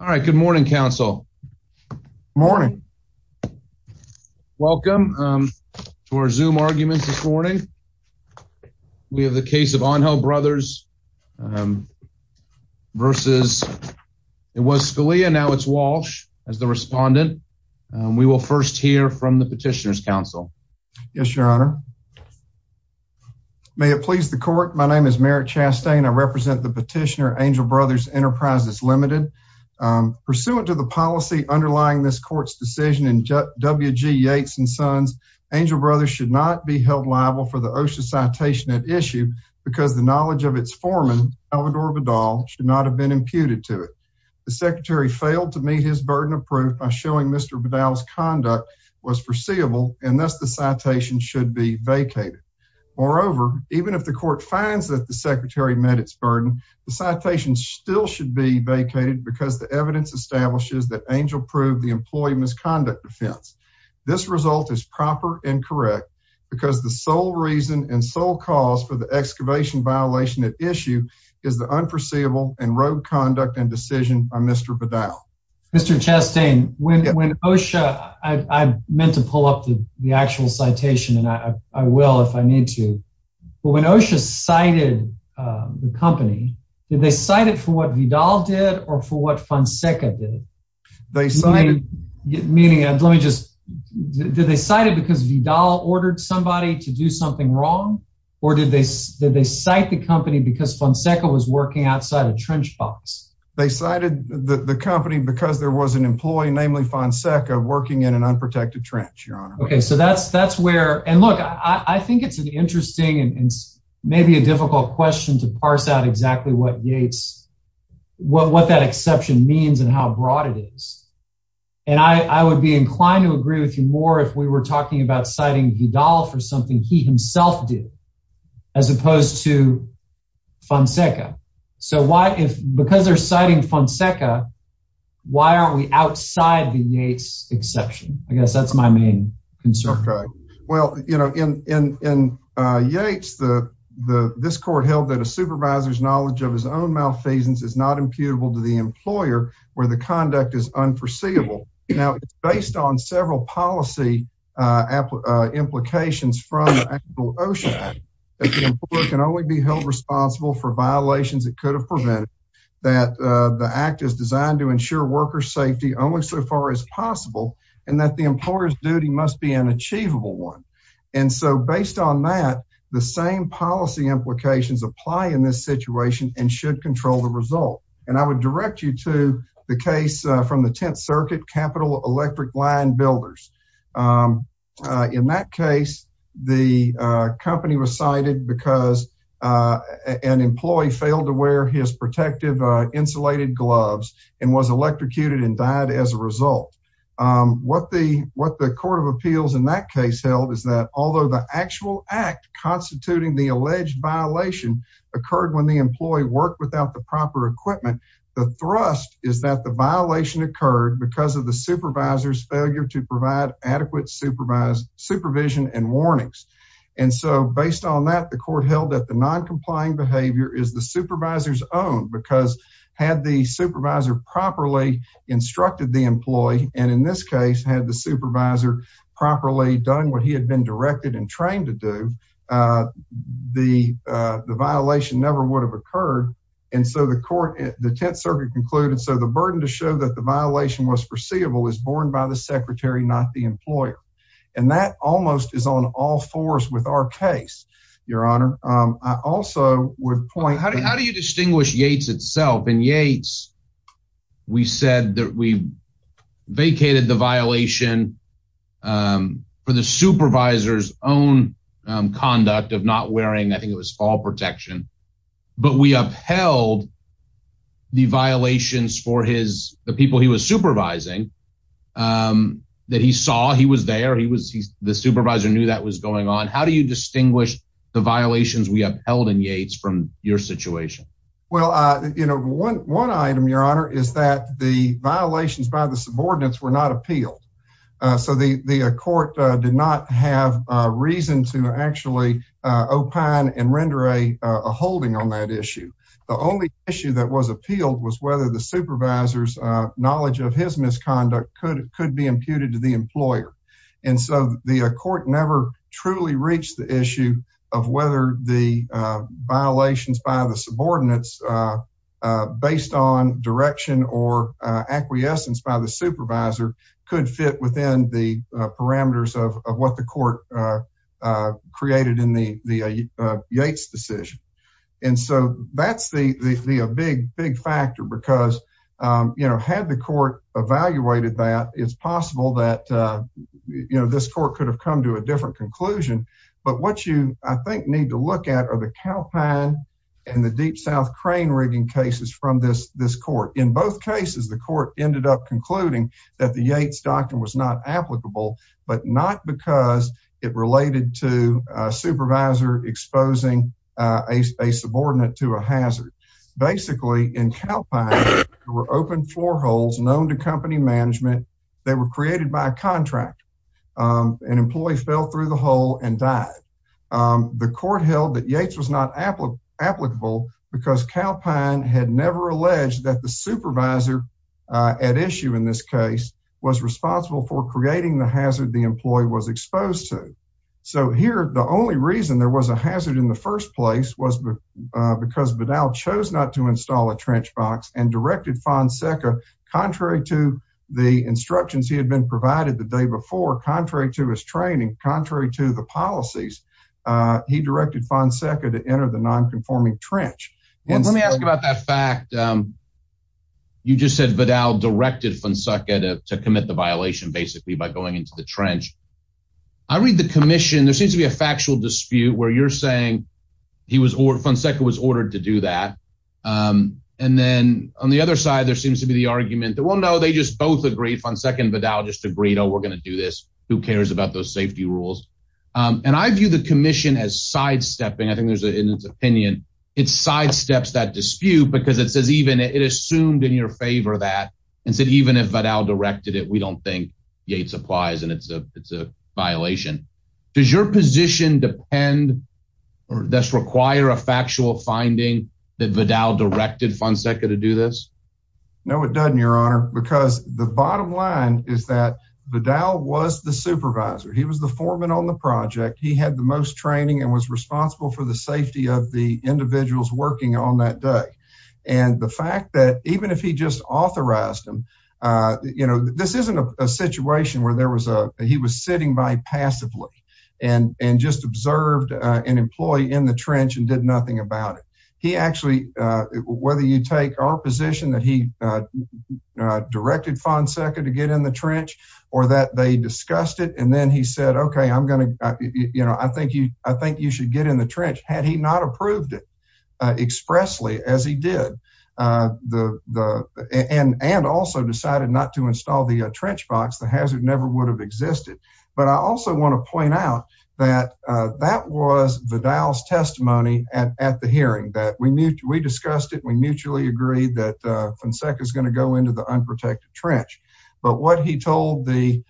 All right. Good morning, counsel. Morning. Welcome to our zoom arguments this morning. We have the case of Angel Brothers versus it was Scalia now it's Walsh as the respondent. We will first hear from the petitioners counsel. Yes, your honor. May it please the court. My name is Merrick Chastain. I represent the petitioner Angel Brothers Enterprises Limited. Pursuant to the policy underlying this court's decision in W. G. Yates and Sons, Angel Brothers should not be held liable for the OSHA citation at issue because the knowledge of its foreman, Alvador Badal, should not have been imputed to it. The secretary failed to meet his burden of proof by showing Mr. Badal's conduct was foreseeable and thus the citation should be vacated. Moreover, even if the court finds that the secretary met its burden, the citation still should be vacated because the evidence establishes that Angel proved the employee misconduct offense. This result is proper and correct because the sole reason and sole cause for the excavation violation at issue is the unforeseeable and rogue conduct and decision by Mr. Badal. Mr. Chastain, when OSHA, I meant to pull up the actual citation and I will if I need to, but when OSHA cited the company, did they cite it for what Vidal did or for what Fonseca did? They cited... Meaning, let me just, did they cite it because Vidal ordered somebody to do something wrong? Or did they cite the company because Fonseca was working outside a trench box? They cited the company because there was an employee, namely Fonseca, working in an unprotected trench, Your Honor. Okay, so that's where, and look, I think it's an interesting and maybe a difficult question to parse out exactly what Yates, what that exception means and how broad it is. And I would be inclined to agree with you more if we were talking about citing Vidal for something he himself did, as opposed to Fonseca. So why if, because they're citing Fonseca, why aren't we outside the Yates exception? I guess that's my main concern. Well, you know, in Yates, this court held that a supervisor's knowledge of his own malfeasance is not imputable to the employer, where the conduct is unforeseeable. Now, based on several policy implications from the OSHA Act, that the employer can only be held responsible for violations that could have prevented, that the act is designed to ensure worker safety only so far as possible, and that the employer's duty must be an achievable one. And so based on that, the same policy implications apply in this situation and should control the result. And I would direct you to the case from the 10th Circuit Capital Electric Line Builders. In that case, the company was cited because an employee failed to wear his electrocuted and died as a result. What the what the Court of Appeals in that case held is that although the actual act constituting the alleged violation occurred when the employee worked without the proper equipment, the thrust is that the violation occurred because of the supervisor's failure to provide adequate supervised supervision and warnings. And so based on that, the court held that the non-compliant behavior is the supervisor's own because had the supervisor properly instructed the employee, and in this case had the supervisor properly done what he had been directed and trained to do, the violation never would have occurred. And so the court, the 10th Circuit concluded, so the burden to show that the violation was foreseeable is borne by the secretary, not the employer. And that almost is on all fours with our case, Your Honor. I also would point out how do you distinguish Yates itself? In Yates, we said that we vacated the violation for the supervisor's own conduct of not wearing, I think it was fall protection, but we upheld the violations for his, the people he was supervising, that he saw he was there, he was, the supervisor knew that was going on. How do you distinguish the violations we upheld in Yates from your situation? Well, you know, one item, Your Honor, is that the violations by the subordinates were not appealed. So the court did not have reason to actually opine and render a holding on that issue. The only issue that was appealed was whether the supervisor's knowledge of his misconduct could be imputed to the employer. And so the court never truly reached the issue of whether the violations by the subordinates based on direction or acquiescence by the supervisor could fit within the parameters of what the court created in the Yates decision. And so that's the big, big factor because, you know, had the court evaluated that it's possible that, you know, this court could have come to a conclusion. But what you I think need to look at are the Calpine and the Deep South crane rigging cases from this, this court. In both cases, the court ended up concluding that the Yates doctrine was not applicable, but not because it related to a supervisor exposing a subordinate to a hazard. Basically, in Calpine, there were open four holes known to company management, they were created by a contractor, an employee fell through the hole and died. The court held that Yates was not applicable, because Calpine had never alleged that the supervisor at issue in this case was responsible for creating the hazard the employee was exposed to. So here, the only reason there was a hazard in the first place was because Vidal chose not to install a trench box and directed Fonseca, contrary to the instructions he had been training contrary to the policies. He directed Fonseca to enter the nonconforming trench. And let me ask you about that fact. You just said Vidal directed Fonseca to commit the violation basically by going into the trench. I read the commission, there seems to be a factual dispute where you're saying he was or Fonseca was ordered to do that. And then on the other side, there seems to be the argument that well, no, they just both agree Fonseca and Vidal just agreed, oh, we're going to do this. Who cares about those safety rules? And I view the commission as sidestepping. I think there's an opinion, it sidesteps that dispute because it says even it assumed in your favor that and said, even if Vidal directed it, we don't think Yates applies. And it's a it's a violation. Does your position depend or does require a factual finding that Vidal directed Fonseca to do this? No, it doesn't, Your Honor, because the bottom line is that Vidal was the supervisor, he was the foreman on the project, he had the most training and was responsible for the safety of the individuals working on that day. And the fact that even if he just authorized him, you know, this isn't a situation where there was a he was sitting by passively and and just observed an employee in the trench and did nothing about it. He actually, whether you take our position that he directed Fonseca to get in the trench, or that they discussed it, and then he said, Okay, I'm going to, you know, I think you I think you should get in the trench had he not approved it expressly as he did the the and and also decided not to install the trench box, the hazard never would have existed. But I also want to point out that that was Vidal's testimony at the hearing that we knew we discussed it, we mutually agreed that Fonseca is But what he told the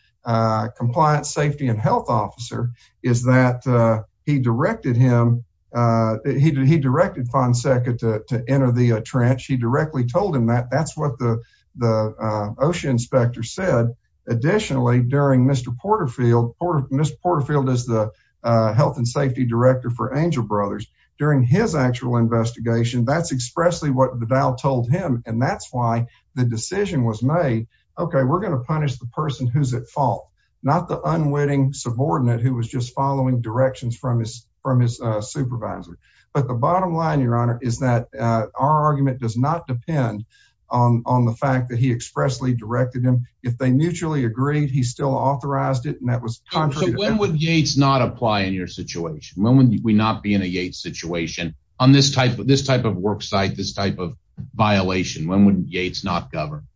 compliance safety and health officer is that he directed him, he directed Fonseca to enter the trench, he directly told him that that's what the the OSHA inspector said. Additionally, during Mr. Porterfield, Mr. Porterfield is the health and safety director for Angel Brothers. During his actual investigation, that's expressly what Vidal told him. And that's why the decision was made. Okay, we're going to punish the person who's at fault, not the unwitting subordinate who was just following directions from his from his supervisor. But the bottom line, Your Honor, is that our argument does not depend on the fact that he expressly directed him. If they mutually agreed, he still authorized it. And that was when would Yates not apply in your situation? When would we not be in a Yates situation on this type of this type of work site this type of violation? When would Yates not govern?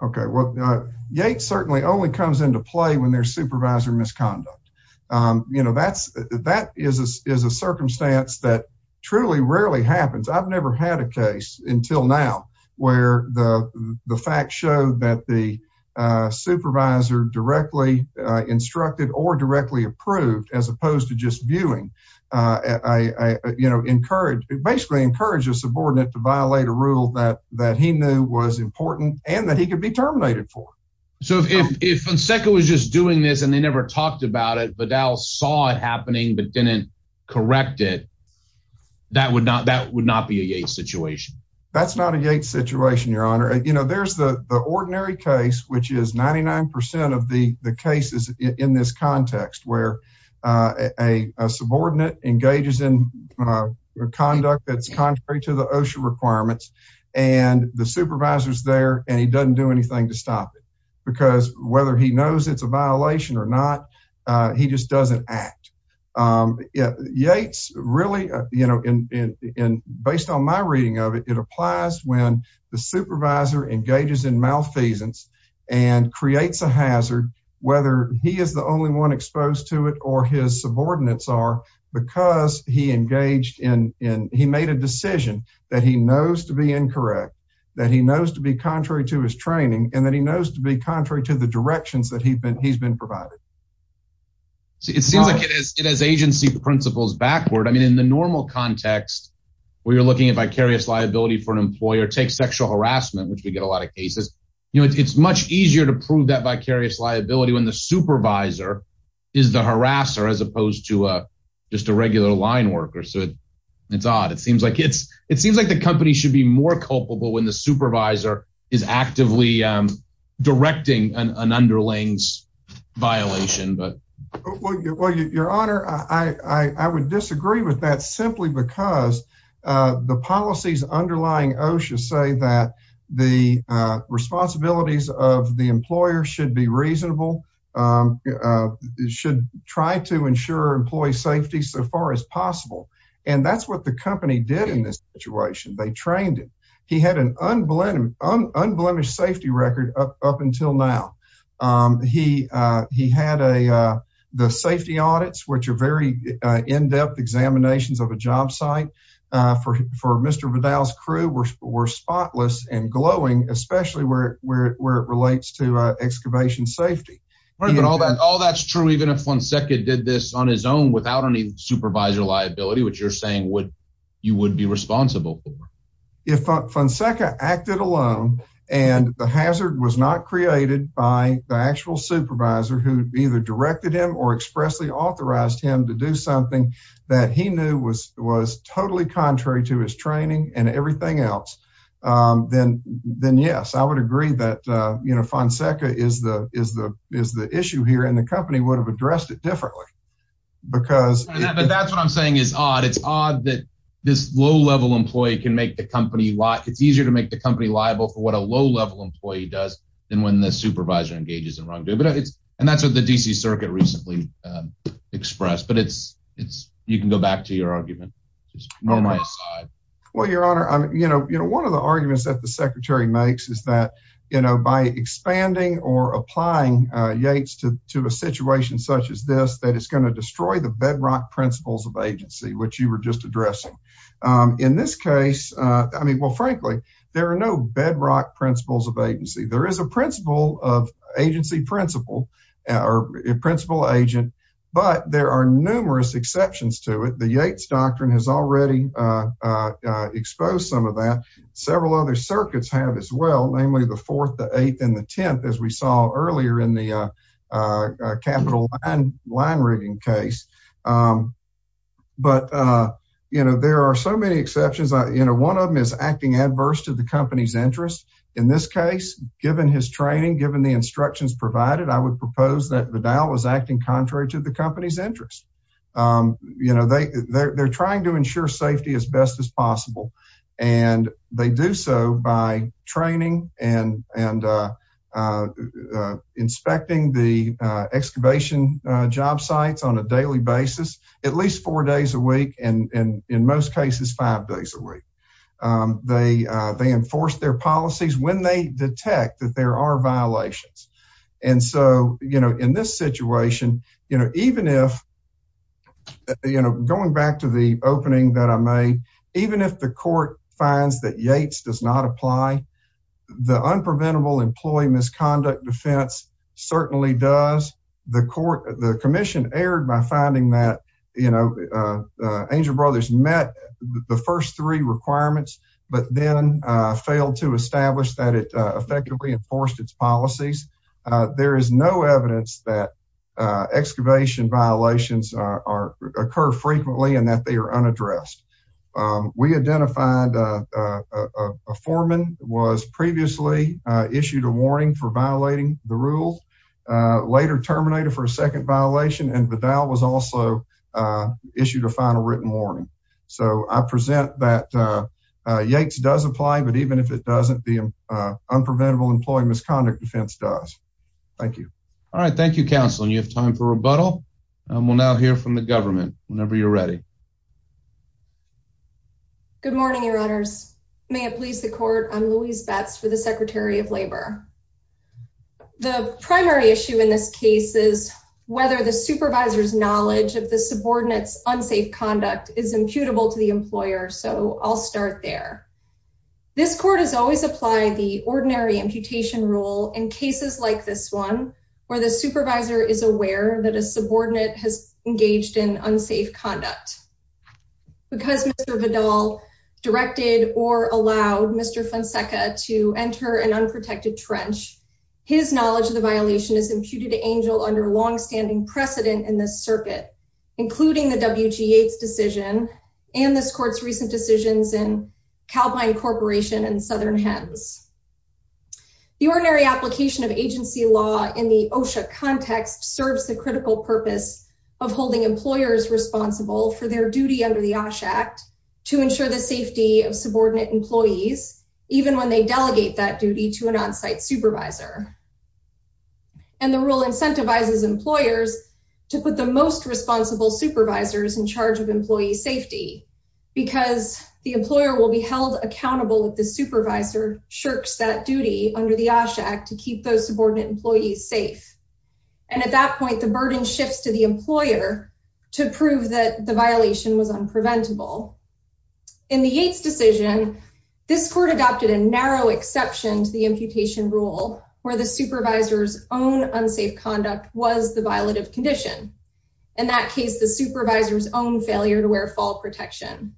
Okay, well, Yates certainly only comes into play when there's supervisor misconduct. You know, that's that is is a circumstance that truly rarely happens. I've never had a case until now, where the fact showed that the supervisor directly instructed or directly approved as opposed to just viewing. I, you know, encouraged basically encouraged a subordinate to violate a rule that that he knew was important and that he could be terminated for. So if Fonseca was just doing this, and they never talked about it, but now saw it happening, but didn't correct it. That would not that would not be a Yates situation. That's not a Yates situation, Your Honor, you know, there's the ordinary case, which is 99% of the cases in this context, where a subordinate engages in conduct that's contrary to the OSHA requirements, and the supervisor's there, and he doesn't do anything to stop it. Because whether he knows it's a violation or not, he just doesn't act. Yates really, you know, in based on my reading of it, it applies when the supervisor engages in malfeasance, and creates a situation where he's exposed to it, or his subordinates are, because he engaged in in he made a decision that he knows to be incorrect, that he knows to be contrary to his training, and that he knows to be contrary to the directions that he's been provided. It seems like it has agency principles backward. I mean, in the normal context, where you're looking at vicarious liability for an employer takes sexual harassment, which we get a lot of cases, you know, it's much easier to prove that vicarious liability when the supervisor is the harasser, as opposed to just a regular line worker. So it's odd. It seems like it's, it seems like the company should be more culpable when the supervisor is actively directing an underlings violation, but well, your honor, I would disagree with that simply because the policies underlying OSHA say that the responsibilities of the employer should be reasonable, should try to ensure employee safety so far as possible. And that's what the company did in this situation, they trained him, he had an unblemished safety record up until now. He, he had a, the safety audits, which are very in depth examinations of a job site for Mr. Vidal's crew were spotless and glowing, especially where it relates to excavation safety. But all that all that's true, even if Fonseca did this on his own without any supervisor liability, which you're saying what you would be responsible for. If Fonseca acted alone, and the hazard was not created by the actual supervisor who either directed him or expressly authorized him to do something that he knew was was totally contrary to his training and everything else, then then yes, I would agree that, you know, Fonseca is the is the is the issue here and the company would have addressed it differently. Because that's what I'm saying is odd. It's odd that this low level employee can make the company like it's easier to make the company liable for what a low level employee does. And when the supervisor engages in wrongdoing, but it's, and that's what the DC Circuit recently expressed, but it's, it's, you can go back to your argument. Normally, well, Your Honor, I'm, you know, you know, one of the arguments that the Secretary makes is that, you know, by expanding or applying Yates to to a situation such as this, that it's going to destroy the bedrock principles of agency, which you were just addressing. In this case, I mean, well, frankly, there are no bedrock principles of agency, there is a principle of agency principle, or principle agent, but there are numerous exceptions to it. The Yates doctrine has already exposed some of that several other circuits have as well, namely the fourth, the eighth and the 10th, as we saw earlier in the capital line reading case. But, you know, there are so many exceptions, you know, one of them is acting adverse to the company's interest. In this case, given his training, given the instructions provided, I would propose that Vidal was you know, they they're trying to ensure safety as best as possible. And they do so by training and and inspecting the excavation job sites on a daily basis, at least four days a week, and in most cases, five days a week. They, they enforce their policies when they detect that there are violations. And so, you know, in this situation, you know, even if, you know, going back to the opening that I made, even if the court finds that Yates does not apply, the Unpreventable Employee Misconduct Defense certainly does. The court, the commission erred by finding that, you know, Angel Brothers met the first three requirements, but then failed to establish that it effectively enforced its policies. There is no evidence that excavation violations are occur frequently and that they are unaddressed. We identified a foreman was previously issued a warning for violating the rules, later terminated for a second violation and Vidal was also issued a final written warning. So I present that Yates does apply, but even if it doesn't, the Unpreventable Employee Misconduct Defense does. Thank you. All right. Thank you, counsel. And you have time for rebuttal. We'll now hear from the government whenever you're ready. Good morning, your honors. May it please the court. I'm Louise Betts for the Secretary of Labor. The primary issue in this case is whether the supervisor's knowledge of the subordinates unsafe conduct is imputable to the employer. So I'll start there. This court has always applied the ordinary imputation rule in cases like this one, where the supervisor is aware that a subordinate has engaged in unsafe conduct. Because Mr. Vidal directed or allowed Mr. Fonseca to enter an unprotected trench, his knowledge of the violation is imputed to Angel under long standing precedent in this circuit, including the WG decision, and this court's recent decisions in Calpine Corporation and Southern Hens. The ordinary application of agency law in the OSHA context serves the critical purpose of holding employers responsible for their duty under the OSHA Act to ensure the safety of subordinate employees, even when they delegate that duty to an onsite supervisor. And the rule incentivizes employers to put the most responsible supervisors in charge of employee safety, because the employer will be held accountable if the supervisor shirks that duty under the OSHA Act to keep those subordinate employees safe. And at that point, the burden shifts to the employer to prove that the violation was unpreventable. In the Yates decision, this court adopted a narrow exception to the imputation rule where the supervisor's own unsafe conduct was the violative condition. In that case, the supervisor's own failure to wear fall protection.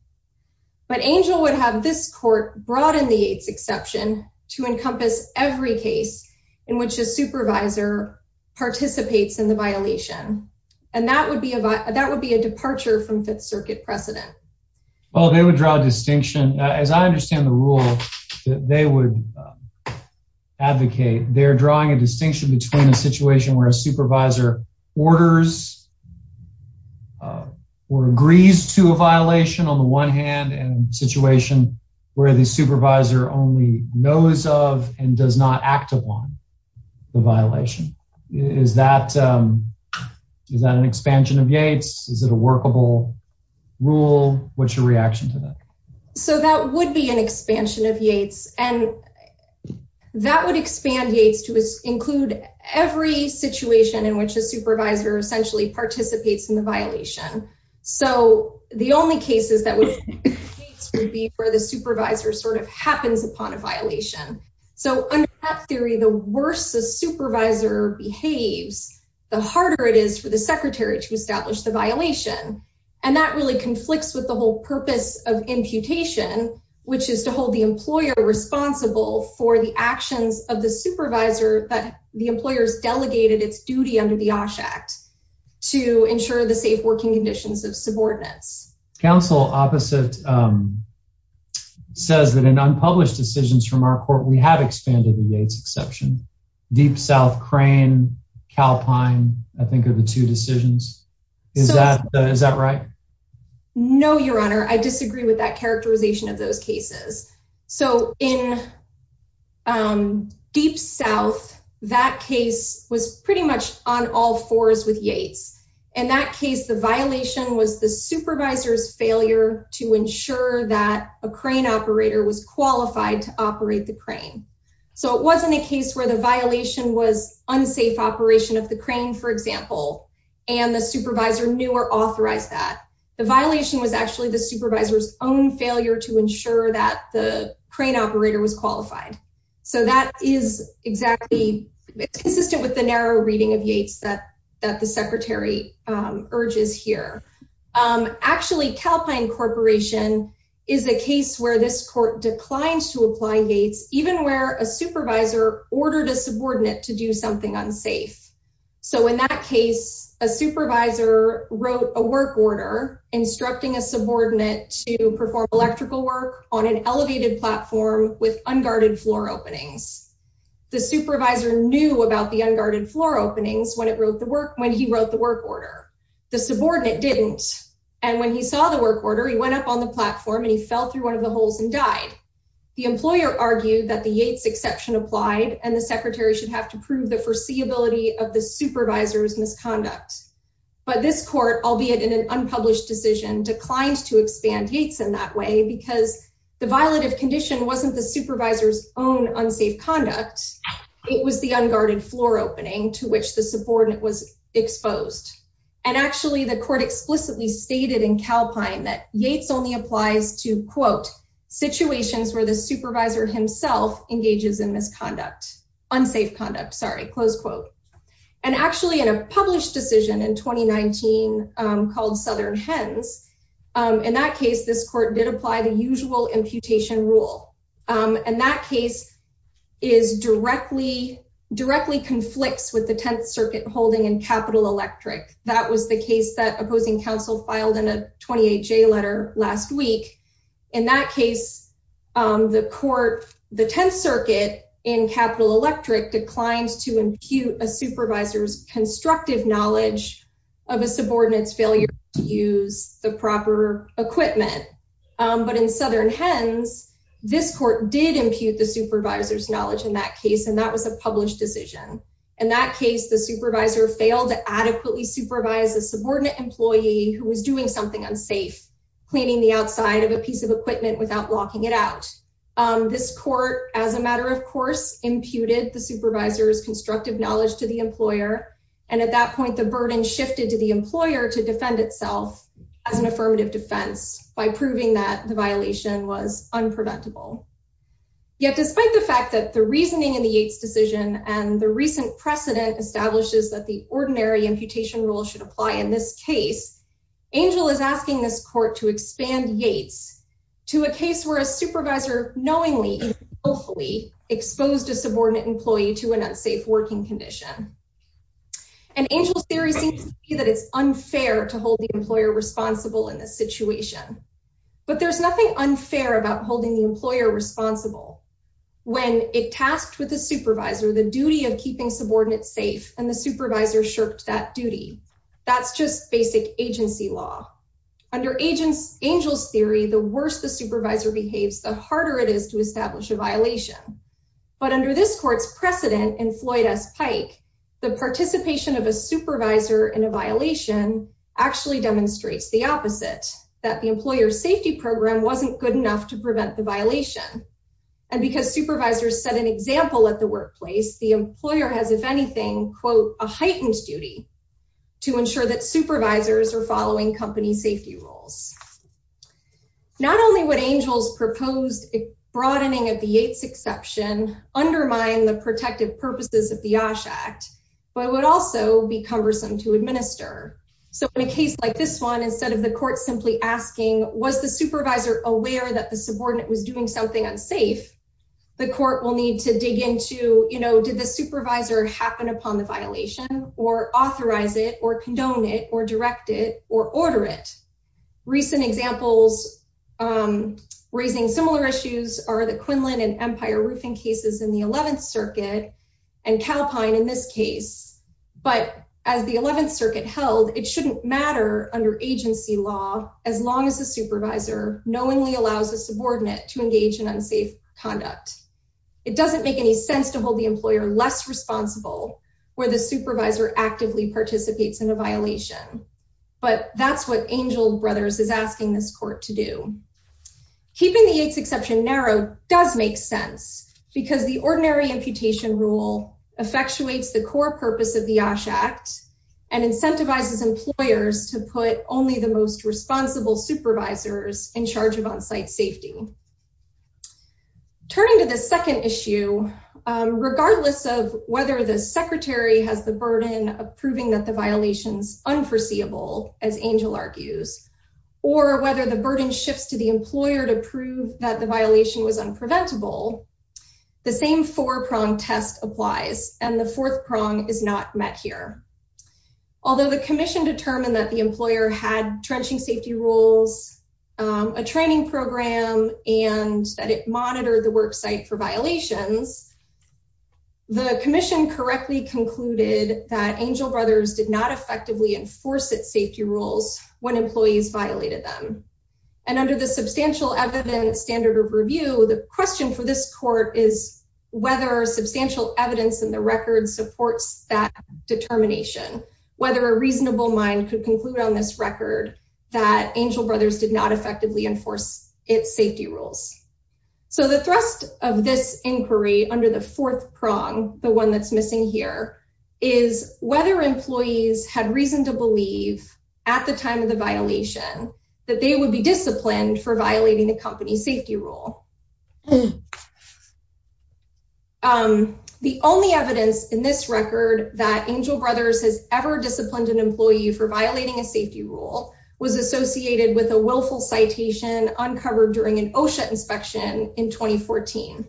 But Angel would have this court broaden the Yates exception to encompass every case in which a supervisor participates in the violation. And that would be a that would be a departure from Fifth Circuit precedent. Well, they would draw a distinction. As I understand the rule, they would advocate they're drawing a distinction between a situation where a supervisor orders or agrees to a violation on the one hand and situation where the supervisor only knows of and does not act upon the violation. Is that is that an expansion of Yates? Is it a workable rule? What's your reaction to that? So that would be an expansion of Yates. And that would expand Yates to include every situation in which a supervisor essentially participates in the violation. So the only cases that would be where the supervisor sort of happens upon a violation. So under that theory, the worse the supervisor behaves, the harder it is for the secretary to establish the violation. And that really conflicts with the whole purpose of imputation, which is to hold the employer responsible for the supervisor, but the employers delegated its duty under the OSH Act to ensure the safe working conditions of subordinates. Counsel opposite says that in unpublished decisions from our court, we have expanded the Yates exception, Deep South Crane, Calpine, I think are the two decisions. Is that is that right? No, Your Honor, I disagree with that characterization of those cases. So in Deep South, that case was pretty much on all fours with Yates. And that case, the violation was the supervisor's failure to ensure that a crane operator was qualified to operate the crane. So it wasn't a case where the violation was unsafe operation of the crane, for example, and the supervisor knew or authorized that the violation was actually the supervisor's own failure to ensure that the crane operator was qualified. So that is exactly consistent with the narrow reading of Yates that that the secretary urges here. Actually, Calpine Corporation is a case where this court declined to apply Yates even where a supervisor ordered a subordinate to do something unsafe. So in that case, a subordinate to perform electrical work on an elevated platform with unguarded floor openings. The supervisor knew about the unguarded floor openings when it wrote the work when he wrote the work order, the subordinate didn't. And when he saw the work order, he went up on the platform and he fell through one of the holes and died. The employer argued that the Yates exception applied and the secretary should have to prove the foreseeability of the supervisor's misconduct. But this court, albeit in an unpublished decision declined to expand Yates in that way because the violative condition wasn't the supervisor's own unsafe conduct. It was the unguarded floor opening to which the subordinate was exposed. And actually, the court explicitly stated in Calpine that Yates only applies to quote, situations where the supervisor himself engages in misconduct, unsafe conduct, sorry, close quote. And actually in a published decision in 2019, called Southern hens. In that case, this court did apply the usual imputation rule. And that case is directly directly conflicts with the Tenth Circuit holding in Capitol Electric. That was the case that opposing counsel filed in a 28 J letter last week. In that case, the court, the Tenth Circuit in a supervisor's constructive knowledge of a subordinates failure to use the proper equipment. But in Southern hens, this court did impute the supervisor's knowledge in that case, and that was a published decision. In that case, the supervisor failed to adequately supervise a subordinate employee who was doing something unsafe, cleaning the outside of a piece of equipment without locking it out. This court as a matter of constructive knowledge to the employer. And at that point, the burden shifted to the employer to defend itself as an affirmative defense by proving that the violation was unpreventable. Yet, despite the fact that the reasoning in the Yates decision and the recent precedent establishes that the ordinary imputation rule should apply in this case, Angel is asking this court to expand Yates to a case where a supervisor knowingly, hopefully exposed a subordinate employee to an unsafe working condition. And Angel's theory seems to be that it's unfair to hold the employer responsible in this situation. But there's nothing unfair about holding the employer responsible. When it tasked with the supervisor, the duty of keeping subordinates safe and the supervisor shirked that duty. That's just basic agency law. Under agents, Angel's theory, the worse the supervisor behaves, the harder it is to prevent the violation. And because supervisors set an example at the workplace, the employer has, if anything, quote, a heightened duty to ensure that supervisors are following company safety rules. Not only would Angel's proposed broadening of the Yates protect the employee, but it would also undermine the purposes of the OSH Act, but it would also be cumbersome to administer. So in a case like this one, instead of the court simply asking, was the supervisor aware that the subordinate was doing something unsafe, the court will need to dig into, you know, did the supervisor happen upon the violation or authorize it or condone it or direct it or order it? Recent examples, raising similar issues are the Quinlan and Empire roofing cases in the 11th circuit and Calpine in this case. But as the 11th circuit held, it shouldn't matter under agency law, as long as the supervisor knowingly allows a subordinate to engage in unsafe conduct. It doesn't make any sense to hold the employer less responsible where the supervisor actively participates in a violation. But that's what Angel Brothers is asking this court to do. Keeping the Yates exception narrowed does make sense, because the ordinary imputation rule effectuates the core purpose of the OSH Act, and incentivizes employers to put only the most responsible supervisors in charge of on site safety. Turning to the second issue, regardless of whether the secretary has the burden of proving that the violations unforeseeable, as Angel argues, or whether the burden shifts to the employer to prove that the violation was unpreventable, the same four prong test applies and the fourth prong is not met here. Although the commission determined that the employer had trenching safety rules, a training program and that it monitored the work site for violations, the commission correctly concluded that Angel Brothers did not effectively enforce its safety rules when employees violated them. And under the substantial evidence standard of review, the question for this court is whether substantial evidence in the record supports that determination, whether a reasonable mind could conclude on this record, that Angel Brothers did not effectively enforce its safety rules. So the thrust of this inquiry under the fourth prong, the one that's missing here, is whether employees had reason to believe at the time of the violation, that they would be disciplined for violating the company's safety rule. The only evidence in this record that Angel Brothers has ever disciplined an employee for violating a safety rule was associated with a willful citation uncovered during an OSHA inspection in 2014.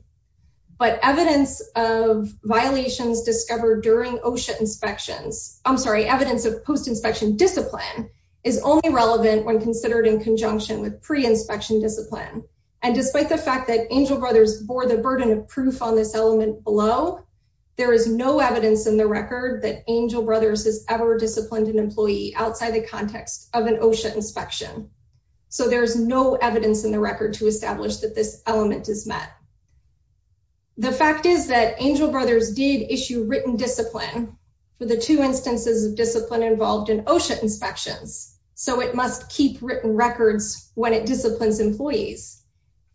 But evidence of violations discovered during OSHA inspections, I'm sorry, evidence of post inspection discipline is only relevant when And despite the fact that Angel Brothers bore the burden of proof on this element below, there is no evidence in the record that Angel Brothers has ever disciplined an employee outside the context of an OSHA inspection. So there's no evidence in the record to establish that this element is met. The fact is that Angel Brothers did issue written discipline for the two instances of discipline involved in OSHA inspections. So it must keep written records when it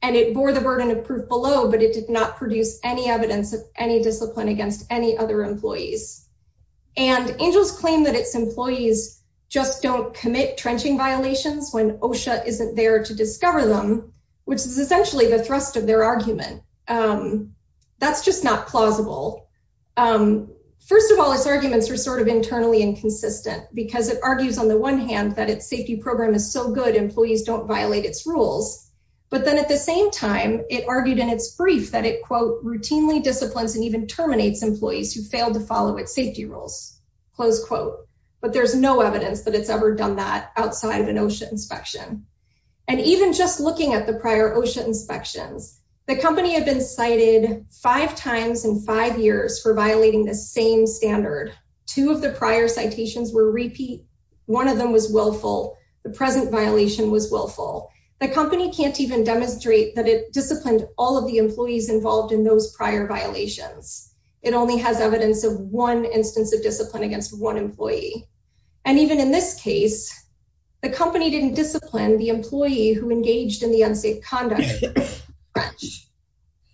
and it bore the burden of proof below, but it did not produce any evidence of any discipline against any other employees. And Angels claim that its employees just don't commit trenching violations when OSHA isn't there to discover them, which is essentially the thrust of their argument. That's just not plausible. First of all, its arguments are sort of internally inconsistent, because it argues on the one hand that its safety program is so good, employees don't violate its rules. But then at the same time, it argued in its brief that it quote, routinely disciplines and even terminates employees who failed to follow its safety rules, close quote. But there's no evidence that it's ever done that outside of an OSHA inspection. And even just looking at the prior OSHA inspections, the company had been cited five times in five years for violating the same standard. Two of the prior citations were repeat, one of them was willful, the present violation was willful. The company can't even demonstrate that it disciplined all of the employees involved in those prior violations. It only has evidence of one instance of discipline against one employee. And even in this case, the company didn't discipline the employee who engaged in the unsafe conduct.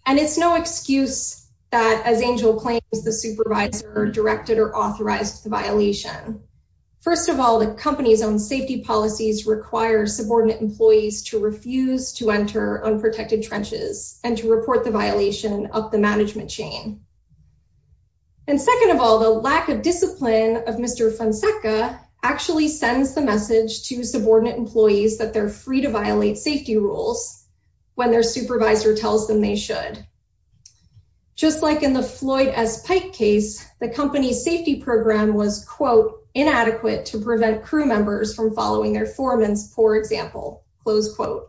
And it's no excuse that as Angel claims, the supervisor directed or authorized the violation. First of all, the company's own safety policies require subordinate employees to refuse to enter unprotected trenches and to report the violation of the management chain. And second of all, the lack of discipline of Mr. Fonseca actually sends the message to subordinate employees that they're free to violate safety rules, when their supervisor tells them they should. Just like in the Floyd S. Pike case, the company's safety program was quote, inadequate to prevent crew members from following their foreman's poor example, close quote.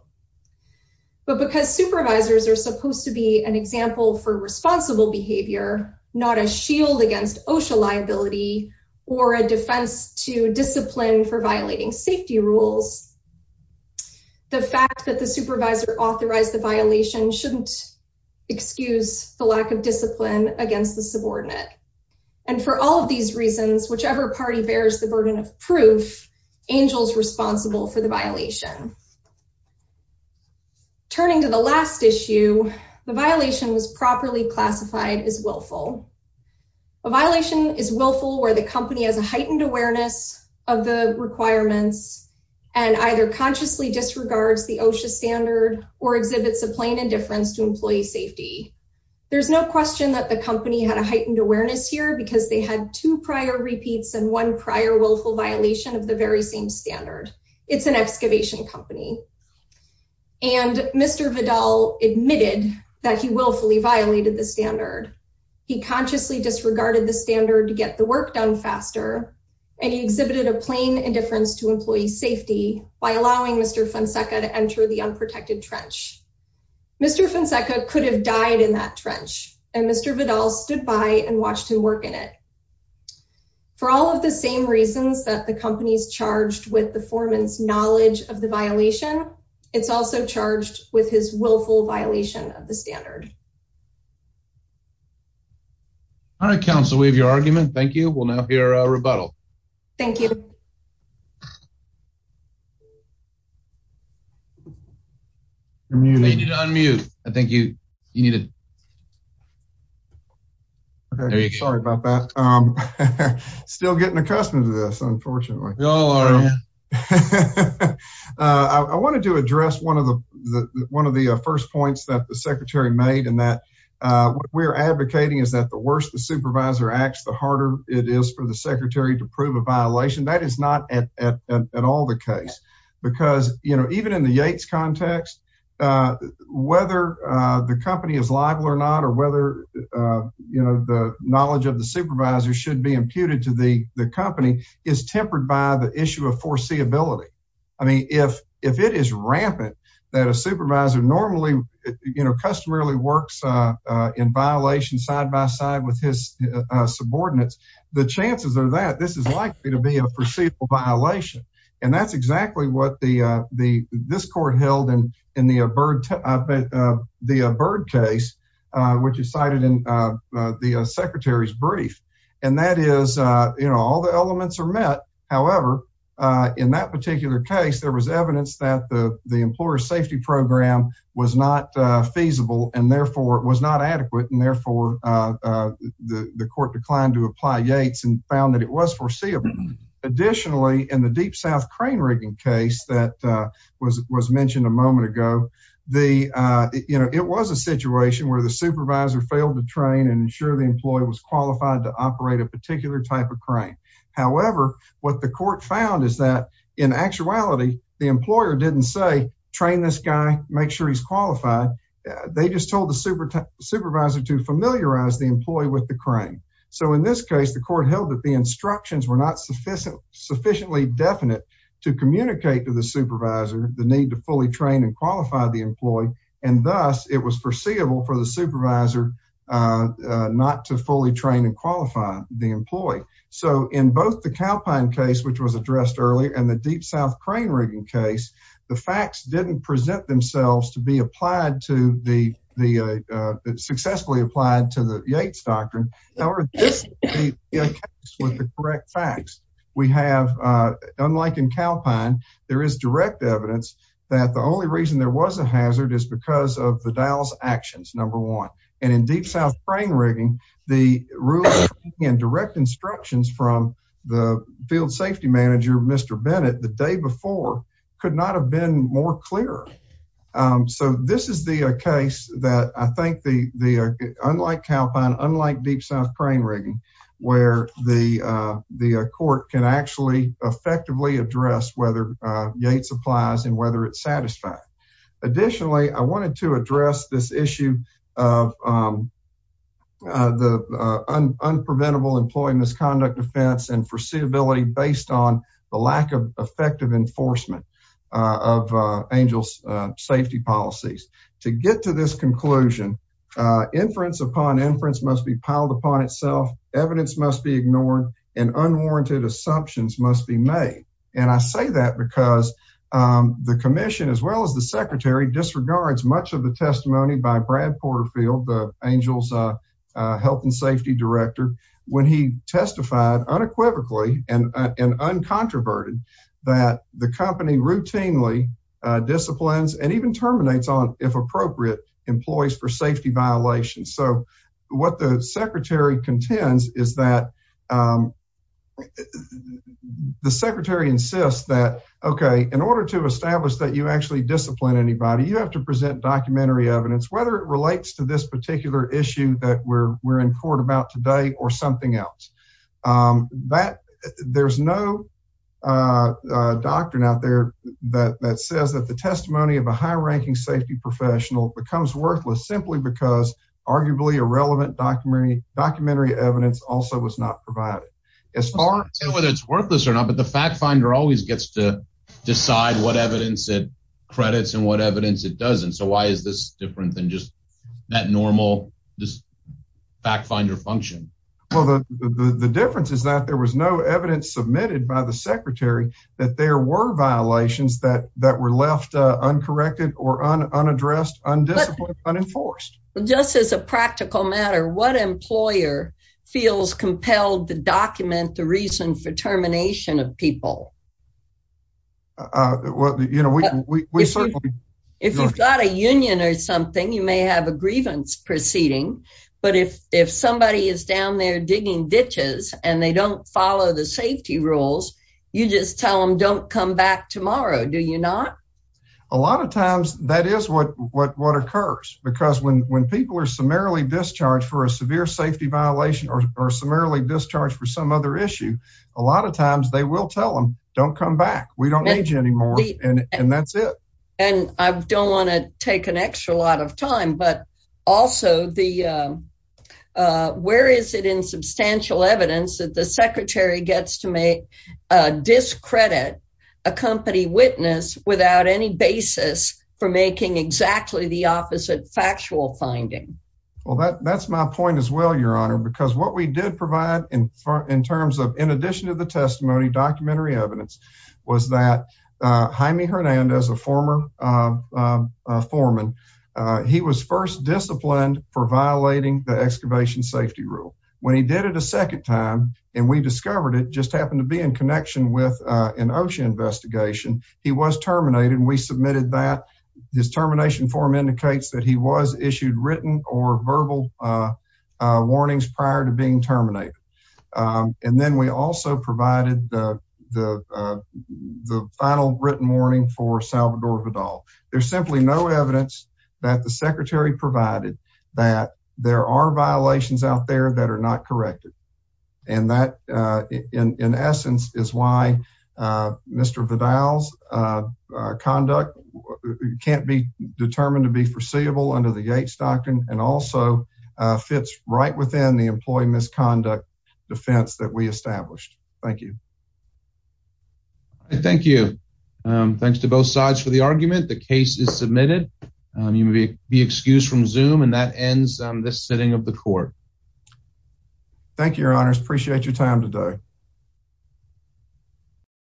But because supervisors are supposed to be an example for responsible behavior, not a shield against OSHA liability, or a defense to discipline for violating safety rules. The fact that the supervisor authorized the violation shouldn't excuse the lack of discipline against the subordinate. And for all of these reasons, whichever party bears the burden of proof, Angel's responsible for the violation. Turning to the last issue, the violation was properly classified as willful. A violation is willful where the company has a heightened awareness of the requirements, and either consciously disregards safety. There's no question that the company had a heightened awareness here because they had two prior repeats and one prior willful violation of the very same standard. It's an excavation company. And Mr. Vidal admitted that he willfully violated the standard. He consciously disregarded the standard to get the work done faster. And he exhibited a plain indifference to employee safety by allowing Mr. Fonseca to enter the unprotected trench. Mr. Fonseca could have died in that trench, and Mr. Vidal stood by and watched him work in it. For all of the same reasons that the company's charged with the foreman's knowledge of the violation, it's also charged with his willful violation of the standard. All right, counsel, we have your argument. Thank you. We'll now hear a rebuttal. Thank you. You need to unmute. I think you need to Okay, sorry about that. I'm still getting accustomed to this, unfortunately. I wanted to address one of the one of the first points that the Secretary made and that we're advocating is that the worse the supervisor acts, the harder it is for the Secretary to prove a violation. That is not at all the case. Because, you know, even in the Yates context, whether the company is liable or not, or whether, you know, the knowledge of the supervisor should be imputed to the company is tempered by the issue of foreseeability. I mean, if it is rampant, that a supervisor normally, you know, customarily works in violation side by side with his subordinates, the chances are that this is likely to be a foreseeable violation. And that's exactly what the the this court held and in the bird the bird case, which is cited in the Secretary's brief. And that is, you know, all the elements are met. However, in that particular case, there was evidence that the the employer safety program was not feasible, and therefore it was not Yates and found that it was foreseeable. Additionally, in the Deep South crane rigging case that was mentioned a moment ago, the, you know, it was a situation where the supervisor failed to train and ensure the employee was qualified to operate a particular type of crane. However, what the court found is that in actuality, the employer didn't say, train this guy, make sure he's qualified. They just told the supervisor to familiarize the employee with the crane. So in this case, the court held that the instructions were not sufficient sufficiently definite to communicate to the supervisor the need to fully train and qualify the employee. And thus it was foreseeable for the supervisor not to fully train and qualify the employee. So in both the cowpine case, which was addressed earlier, and the Deep South crane rigging case, the facts didn't present themselves to be applied to the the successfully applied to the Yates doctrine. However, with the correct facts, we have, unlike in cowpine, there is direct evidence that the only reason there was a hazard is because of the Dallas actions, number one, and in Deep South crane rigging, the rules and direct instructions from the field safety manager, Mr. Bennett the day before, could not have been more clear. So this is the case that I think the the unlike cowpine, unlike Deep South crane rigging, where the the court can actually effectively address whether Yates applies and whether it's satisfied. Additionally, I wanted to address this issue of the unpreventable employing misconduct offense and foreseeability based on the lack of effective enforcement of ANGEL's safety policies. To get to this conclusion, inference upon inference must be piled upon itself, evidence must be ignored, and unwarranted assumptions must be made. And I say that because the commission as well as the secretary disregards much of the testimony by Brad Porterfield, ANGEL's health and safety director, when he testified unequivocally and an uncontroverted that the company routinely disciplines and even terminates on if appropriate employees for safety violations. So what the secretary contends is that the secretary insists that, okay, in order to establish that you actually discipline anybody, you have to present documentary evidence, whether it relates to this particular issue that we're we're in court about today or something else. That there's no doctrine out there that that says that the testimony of a high ranking safety professional becomes worthless simply because arguably irrelevant documentary documentary evidence also was not provided. As far as whether it's worthless or not, but the fact finder always gets to decide what evidence it credits and what evidence it doesn't. So why is this different than just that this fact finder function? Well, the difference is that there was no evidence submitted by the secretary, that there were violations that that were left uncorrected or unaddressed, undisciplined, unenforced. Just as a practical matter, what employer feels compelled to document the reason for termination of people? If you've got a union or something, you may have a proceeding. But if if somebody is down there digging ditches, and they don't follow the safety rules, you just tell them don't come back tomorrow, do you not? A lot of times that is what what what occurs because when when people are summarily discharged for a severe safety violation or summarily discharged for some other issue, a lot of times they will tell them don't come back, we don't need you anymore. And that's it. And I don't want to take an extra lot of time. But also the where is it in substantial evidence that the secretary gets to make discredit a company witness without any basis for making exactly the opposite factual finding? Well, that that's my point as well, Your Honor, because what we did provide in terms of in addition to the testimony documentary evidence was that Jaime Hernandez, a former foreman, he was first disciplined for violating the excavation safety rule, when he did it a second time, and we discovered it just happened to be in connection with an OSHA investigation, he was terminated, and we submitted that his termination form indicates that he was issued written or verbal warnings prior to being terminated. And then we also provided the final written warning for Salvador Vidal. There's simply no evidence that the secretary provided that there are violations out there that are not corrected. And that, in essence, is why Mr. Vidal's conduct can't be determined to be foreseeable under the Yates Doctrine and also fits right within the employee misconduct defense that we established. Thank you. Thank you. Thanks to both sides for the argument. The case is submitted. You may be excused from zoom and that ends this sitting of the court. Thank you, Your Honors. Appreciate your time today.